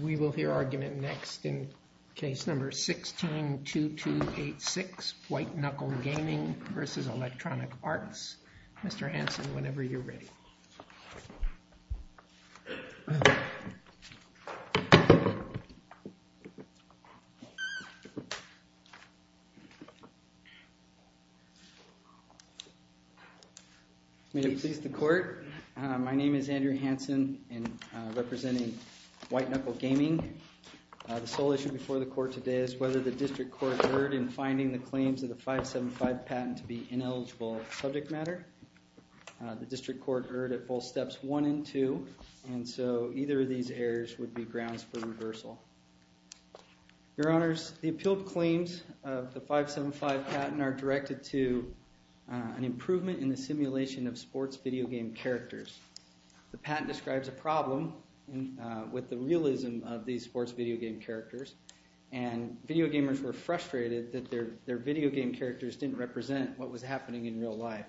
Where MasterCard In Question is Located Case number 162286, White Knuckle Gaming vs. Electronic Arts. Mr. Hanson, whenever you're ready. May it please the court. My name is Andrew Hanson and I'm representing White Knuckle Gaming. The sole issue before the court today is whether the district court erred in finding the claims of the 575 patent to be ineligible subject matter. The district court erred at both steps one and two, and so either of these errors would be grounds for reversal. Your honors, the appealed claims of the 575 patent are directed to an improvement in the simulation of sports video game characters. The patent describes a problem with the realism of these sports video game characters, and video gamers were frustrated that their video game characters didn't represent what was happening in real life.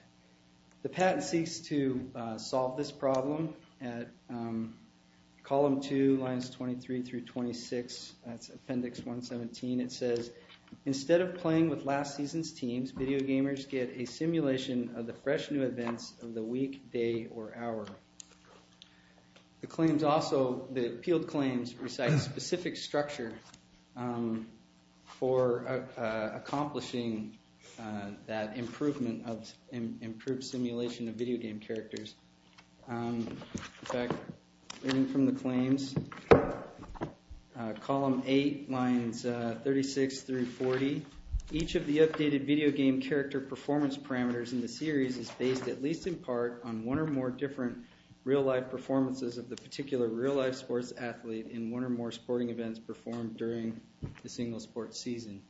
The patent seeks to solve this problem at column two lines 23 through 26. That's appendix 117. It says instead of playing with last season's teams, video gamers get a chance to play with the power. The appealed claims recite specific structure for accomplishing that improvement of improved simulation of video game characters. In fact, reading from the claims, column eight lines 36 through 40, each of the updated video game character performance parameters in the series is based at one or more different real life performances of the particular real life sports athlete in one or more sporting events performed during the single sports season.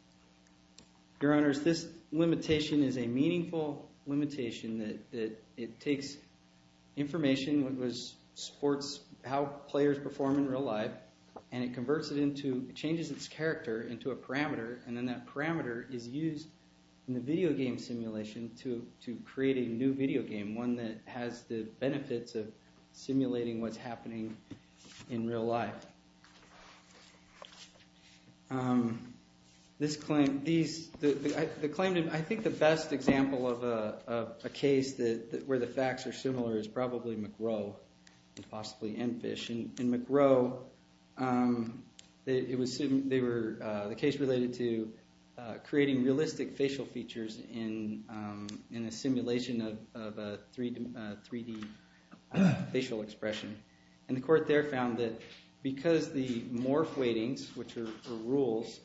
Your honors, this limitation is a meaningful limitation that it takes information, what was sports, how players perform in real life, and it converts it into, it changes its character into a parameter, and then that parameter is used in the video game simulation to create a new video game, one that has the benefits of simulating what's happening in real life. This claim, these, the claim, I think the best example of a case where the facts are similar is probably McGrow and possibly Enfish. In McGrow, it was, they were, the case related to creating realistic facial features in a simulation of a 3D facial expression, and the court there found that because the morph weightings, which are rules,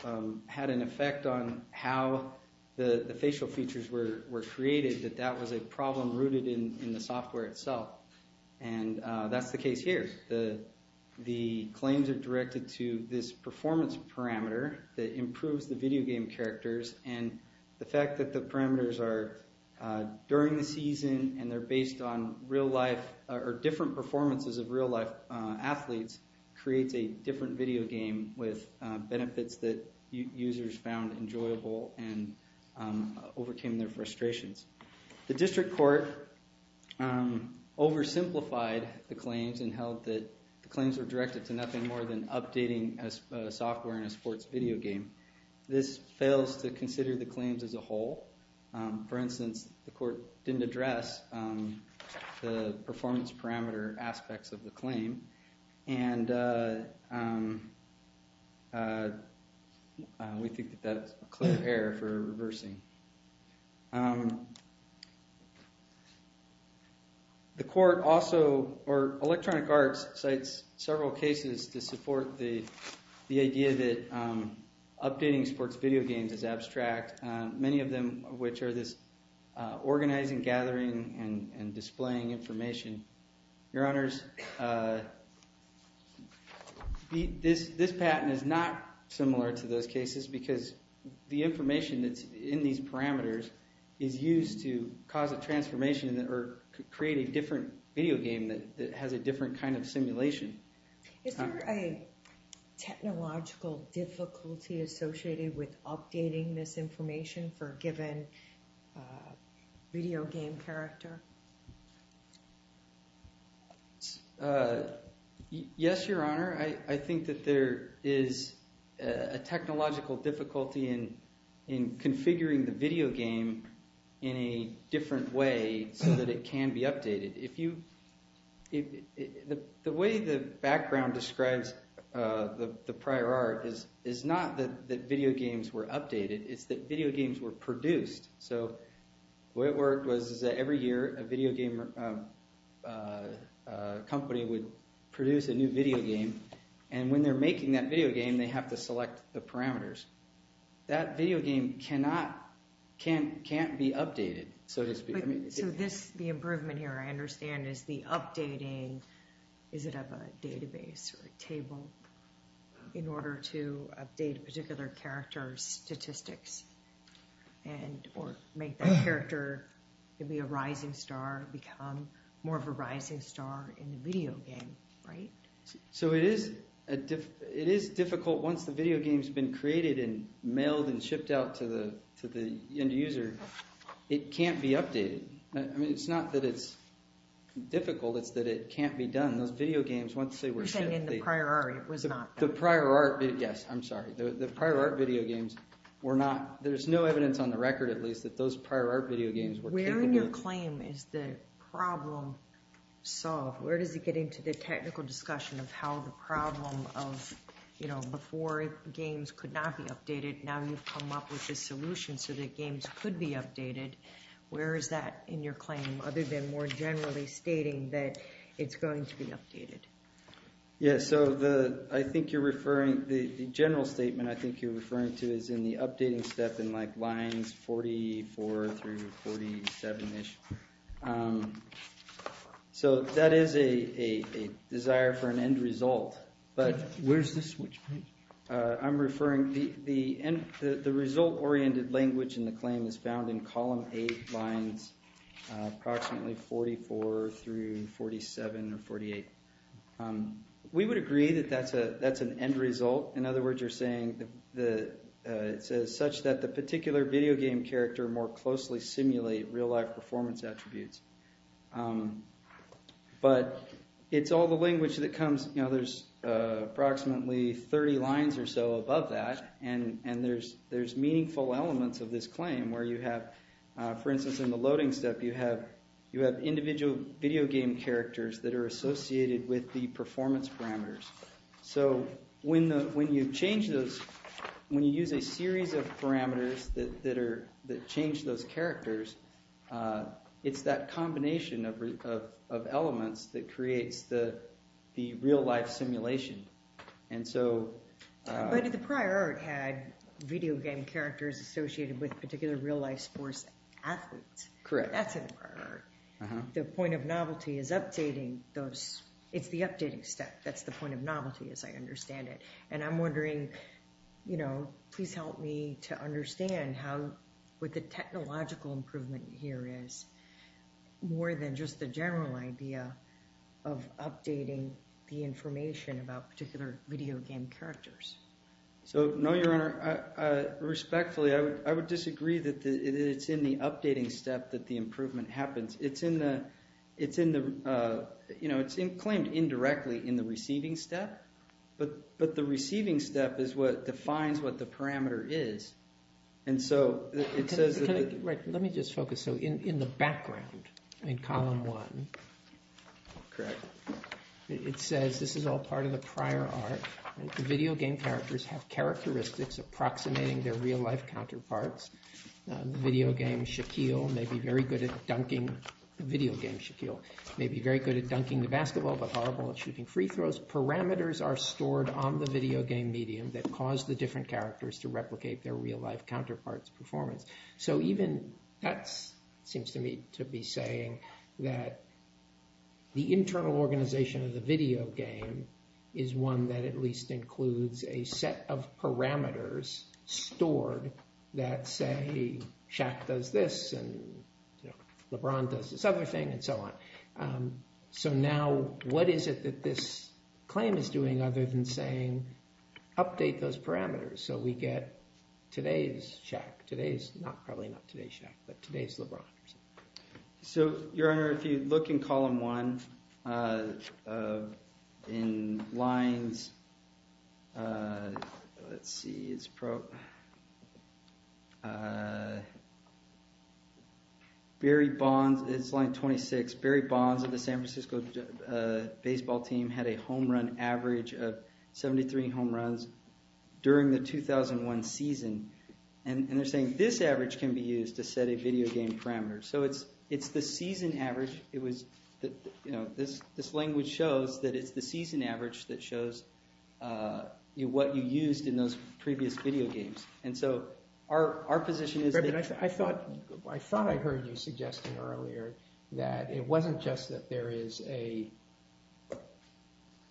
had an effect on how the facial features were created, that that was a problem rooted in the software itself, and that's the case here. The claims are directed to this performance parameter that improves the effect that the parameters are during the season, and they're based on real life, or different performances of real life athletes, creates a different video game with benefits that users found enjoyable and overcame their frustrations. The district court oversimplified the claims and held that the claims were directed to nothing more than updating a software in a sports video game. This fails to consider the claims as a whole. For instance, the court didn't address the performance parameter aspects of the claim, and we think that that's a clear error for reversing. The court also, or Electronic Arts, cites several cases to support the idea that updating sports video games is abstract, many of them which are this organizing, gathering, and displaying information. Your Honors, this patent is not similar to those cases because the information that's in these parameters is used to cause a transformation or create a different video game that has a different kind of simulation. Is there a technological difficulty associated with updating this information for a given video game character? Yes, Your Honor. I think that there is a technological difficulty in configuring the video game in a different way so that it can be updated. The way the background describes the prior art is not that video games were updated, it's that video games were produced. So the way it worked was that every year, a video game company would produce a new video game, and when they're making that video game, they have to select the parameters. So the improvement here, I understand, is the updating, is it of a database or a table in order to update a particular character's statistics, or make that character, maybe a rising star, become more of a rising star in the video game, right? So it is difficult once the video game's been created and mailed and shipped out to the end user, it can't be updated. I mean, it's not that it's difficult, it's that it can't be done. Those video games, once they were sent... You're saying in the prior art, it was not... The prior art... Yes, I'm sorry. The prior art video games were not... There's no evidence on the record, at least, that those prior art video games were capable of... Where in your claim is the problem solved? Where does it get into the technical discussion of how the problem of, you know, before games could not be updated, now you've come up with this solution. So that games could be updated. Where is that in your claim, other than more generally stating that it's going to be updated? Yes, so the... I think you're referring... The general statement I think you're referring to is in the updating step in, like, lines 44 through 47-ish. So that is a desire for an end result, but... Where's the switch, please? I'm referring... The end... The result-oriented language in the claim is found in column 8, lines approximately 44 through 47 or 48. We would agree that that's an end result. In other words, you're saying that it says, such that the particular video game character more closely simulate real-life performance attributes. But it's all the language that comes... You know, there's approximately 30 lines or so above that, and there's meaningful elements of this claim where you have, for instance, in the loading step, you have individual video game characters that are associated with the performance parameters. So when you change those... When you use a series of parameters that change those characters, it's that combination of elements that creates the real-life simulation. And so... But the prior art had video game characters associated with particular real-life sports athletes. Correct. That's in the prior art. The point of novelty is updating those... It's the updating step. That's the point of novelty as I understand it. And I'm wondering, you know, please help me to understand how, what the technological improvement here is, more than just the general idea of updating the information about particular video game characters. So, no, Your Honor. Respectfully, I would disagree that it's in the updating step that the improvement happens. It's in the... It's in the... You know, it's claimed indirectly in the receiving step, but the receiving step is what defines what the parameter is. And so, it says that... Right. Let me just focus. So, in the background, in column one. Correct. It says, this is all part of the prior art. Video game characters have characteristics approximating their real-life counterparts. Video game Shaquille may be very good at dunking... Video game Shaquille may be very good at dunking the basketball, but horrible at shooting free throws. Parameters are stored on the video game medium that cause the different characters to have real-life counterparts' performance. So, even that seems to me to be saying that the internal organization of the video game is one that at least includes a set of parameters stored that say Shaq does this, and LeBron does this other thing, and so on. So, now, what is it that this claim is doing other than saying, update those parameters? So, we get today's Shaq. Today's, not probably not today's Shaq, but today's LeBron. So, your honor, if you look in column one, in lines, let's see. It's pro... Barry Bonds, it's line 26. Barry Bonds of the San Francisco baseball team had a home run average of 73 home runs during the 2001 season, and they're saying, this average can be used to set a video game parameter. So, it's the season average. It was, you know, this language shows that it's the season average that shows what you used in those previous video games. And so, our position is that... I thought I heard you suggesting earlier that it wasn't just that there is a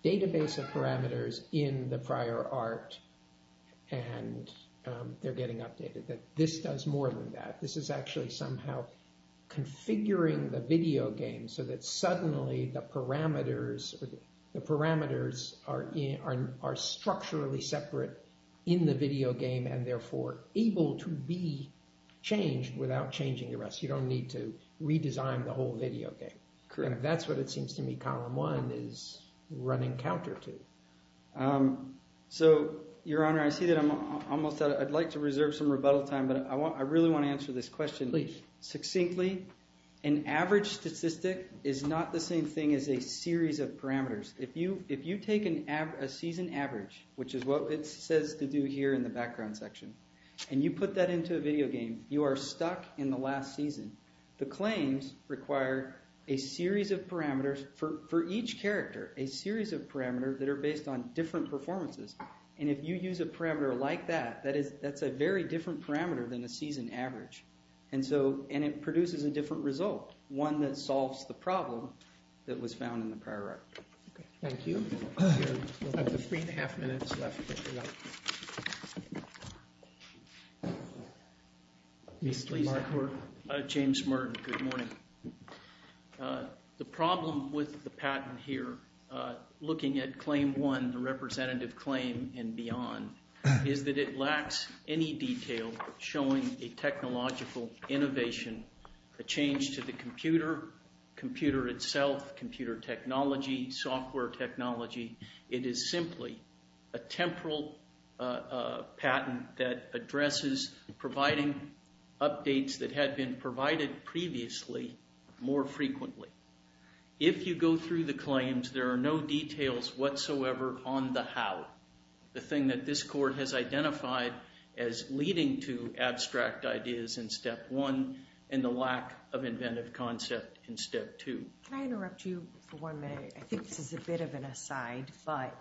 database of things that are marked, and they're getting updated, that this does more than that. This is actually somehow configuring the video game so that suddenly the parameters are structurally separate in the video game, and therefore, able to be changed without changing the rest. You don't need to redesign the whole video game. Correct. That's what it seems to me column one is running counter to. So, your honor, I see that I'm almost out. I'd like to reserve some rebuttal time, but I really want to answer this question. Please. Succinctly, an average statistic is not the same thing as a series of parameters. If you take a season average, which is what it says to do here in the background section, and you put that into a video game, you are stuck in the last season. The claims require a series of parameters for each character, a series of parameters that are based on different performances. And if you use a parameter like that, that's a very different parameter than a season average. And it produces a different result, one that solves the problem that was found in the prior record. Okay. Thank you. We have three and a half minutes left. James Martin. Good morning. The problem with the patent here, looking at claim one, the representative claim and beyond, is that it lacks any detail showing a technological innovation, a change to the computer, computer itself, computer technology, software technology. It is simply a temporal patent that addresses providing updates that had been provided previously more frequently. If you go through the claims, there are no details whatsoever on the how, the thing that this court has identified as leading to abstract ideas in step one and the lack of inventive concept in step two. Can I interrupt you for one minute? I think this is a bit of an aside, but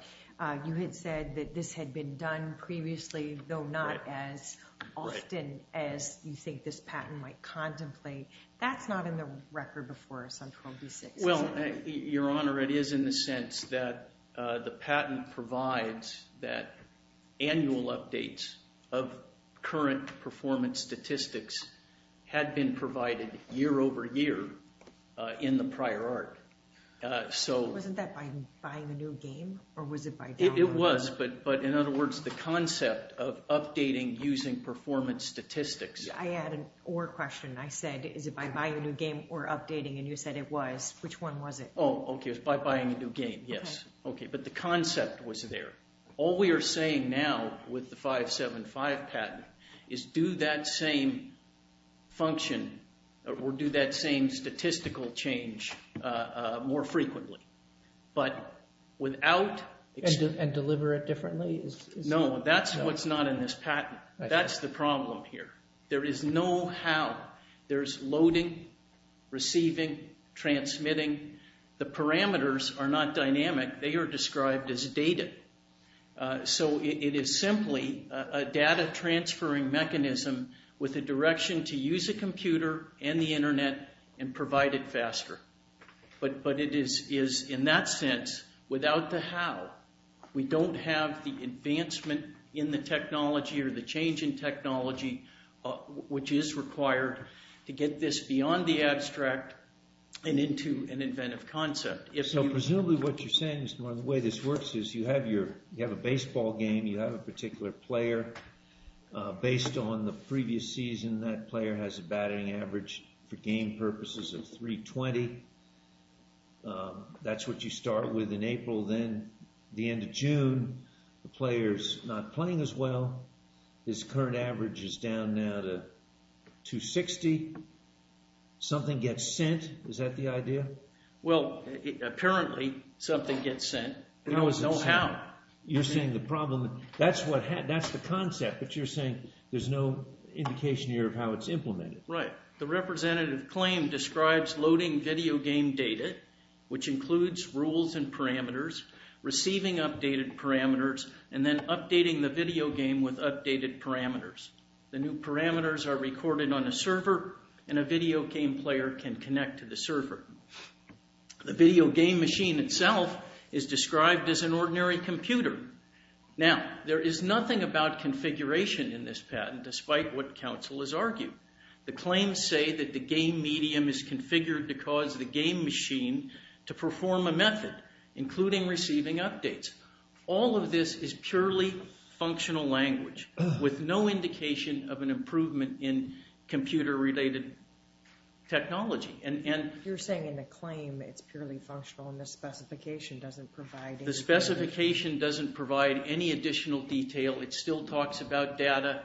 you had said that this had been done previously, though not as often as you think this patent might contemplate. That's not in the record before us on 12B6. Well, Your Honor, it is in the sense that the patent provides that annual updates of current performance statistics had been provided year over year in the prior art. Wasn't that by buying a new game, or was it by download? It was, but in other words, the concept of updating using performance statistics. I had an or question. I said, is it by buying a new game or updating? And you said it was. Which one was it? Oh, okay. It's by buying a new game. Yes. Okay. But the concept was there. All we are saying now with the 575 patent is do that same function or do that same statistical change more frequently. But without... And deliver it differently? No, that's what's not in this patent. That's the problem here. There is no how. There's loading, receiving, transmitting. The parameters are not dynamic. They are described as data. So it is simply a data transferring mechanism with a direction to use a computer and the faster. But it is, in that sense, without the how, we don't have the advancement in the technology or the change in technology which is required to get this beyond the abstract and into an inventive concept. So presumably what you're saying is one of the ways this works is you have a baseball game. You have a particular player based on the previous season. That player has a batting average for game purposes of 320. That's what you start with in April. Then the end of June, the player's not playing as well. His current average is down now to 260. Something gets sent. Is that the idea? Well, apparently something gets sent. There's no how. You're saying the problem... That's the concept. But you're saying there's no indication here of how it's implemented. Right. The representative claim describes loading video game data, which includes rules and parameters, receiving updated parameters, and then updating the video game with updated parameters. The new parameters are recorded on a server and a video game player can connect to the server. The video game machine itself is described as an ordinary computer. Now, there is nothing about configuration in this patent, despite what counsel has argued. The claims say that the game medium is configured to cause the game machine to perform a method, including receiving updates. All of this is purely functional language with no indication of an improvement in computer related technology. You're saying in the claim it's purely functional and the specification doesn't provide... The specification doesn't provide any additional detail. It still talks about data.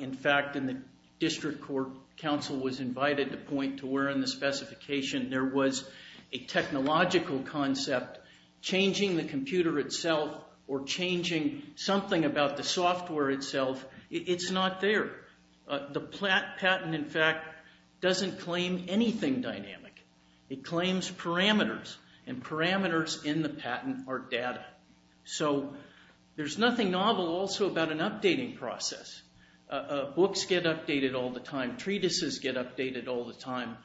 In fact, in the district court, counsel was invited to point to where in the specification there was a technological concept changing the computer itself or changing something about the software itself. It's not there. The patent, in fact, doesn't claim anything dynamic. It claims parameters, and parameters in the patent are data. So there's nothing novel also about an updating process. Books get updated all the time. Treatises get updated all the time.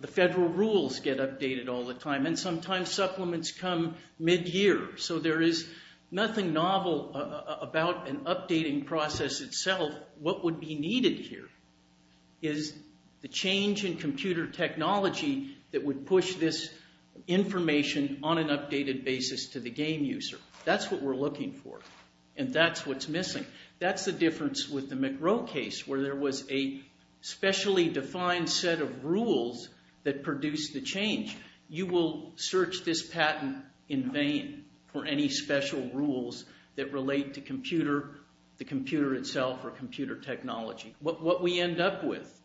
The federal rules get updated all the time, and sometimes supplements come mid-year. So there is nothing novel about an updating process itself. What would be needed here is the change in computer technology that would push this information on an updated basis to the game user. That's what we're looking for, and that's what's missing. That's the difference with the McRow case, where there was a specially defined set of rules that produced the change. You will search this patent in vain for any special rules that relate to computer, the technology. What we end up with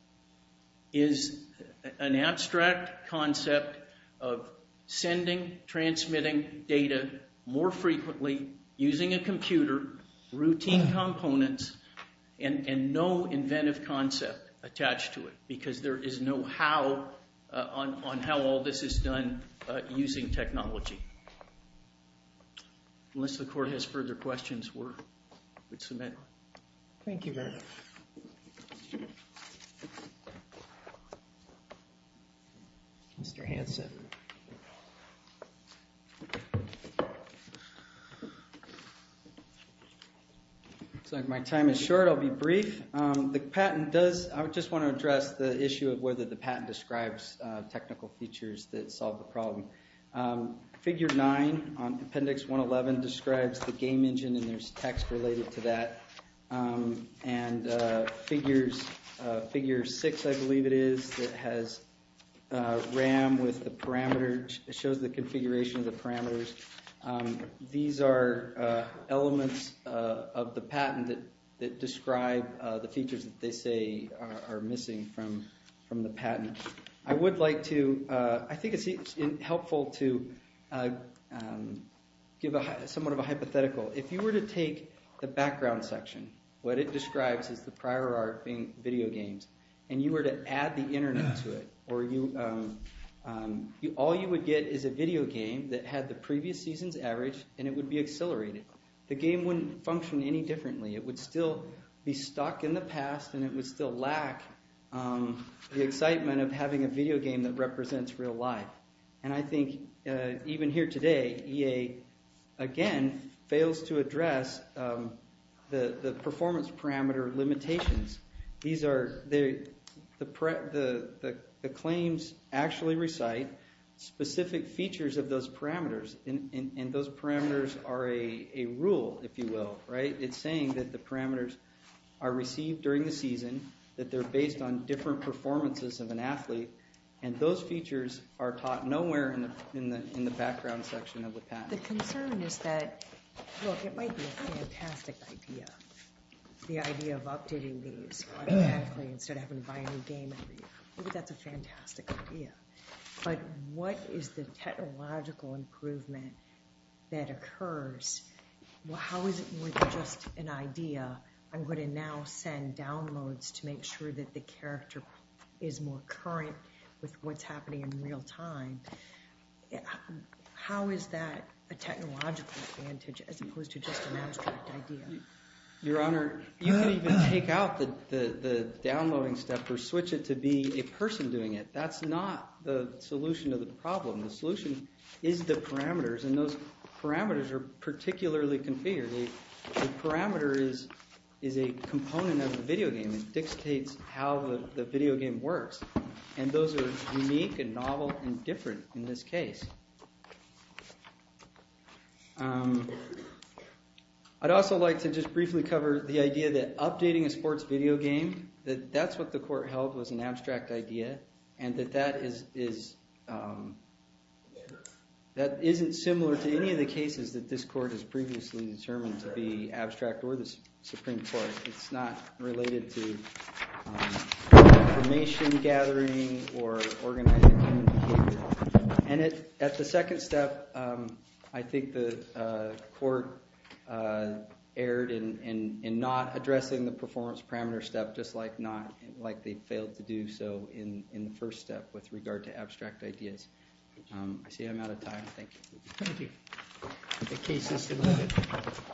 is an abstract concept of sending, transmitting data more frequently using a computer, routine components, and no inventive concept attached to it, because there is no how on how all this is done using technology. Unless the court has further questions, we'll submit. Thank you very much. Mr. Hanson. Looks like my time is short. I'll be brief. The patent does, I just want to address the issue of whether the patent describes technical features that solve the problem. Figure 9 on appendix 111 describes the game engine, and there's text related to that. And figure 6, I believe it is, that has RAM with the parameters. It shows the configuration of the parameters. These are elements of the patent that describe the features that they say are missing from the patent. I would like to, I think it's helpful to give somewhat of a hypothetical. If you were to take the background section, what it describes as the prior art being video games, and you were to add the internet to it, all you would get is a video game that had the previous season's average, and it would be accelerated. The game wouldn't function any differently. It would still be stuck in the past, and it would still lack the excitement of having a video game that represents real life. And I think even here today, EA, again, fails to address the performance parameter limitations. These are the claims actually recite specific features of those parameters, and those parameters are a rule, if you will. It's saying that the parameters are received during the season, that they're based on different performances of an athlete, and those features are taught nowhere in the background section of the patent. The concern is that, look, it might be a fantastic idea, the idea of updating these automatically instead of having to buy a new game every year. I think that's a fantastic idea. But what is the technological improvement that occurs? How is it more than just an idea? I'm going to now send downloads to make sure that the character is more current with what's happening in real time. How is that a technological advantage as opposed to just an abstract idea? Your Honor, you can even take out the downloading step or switch it to be a person doing it. That's not the solution to the problem. The solution is the parameters, and those parameters are particularly configured. The parameter is a component of the video game. It dictates how the video game works, and those are unique and novel and different in this case. I'd also like to just briefly cover the idea that updating a sports video game, that that's what the court held was an abstract idea, and that that isn't similar to any of the cases that this court has previously determined to be abstract or the Supreme Court. It's not related to information gathering or organizing human behavior. And at the second step, I think the court erred in not addressing the performance parameter step just like they failed to do so in the first step with regard to abstract ideas. I see I'm out of time. Thank you. Thank you. The case is submitted.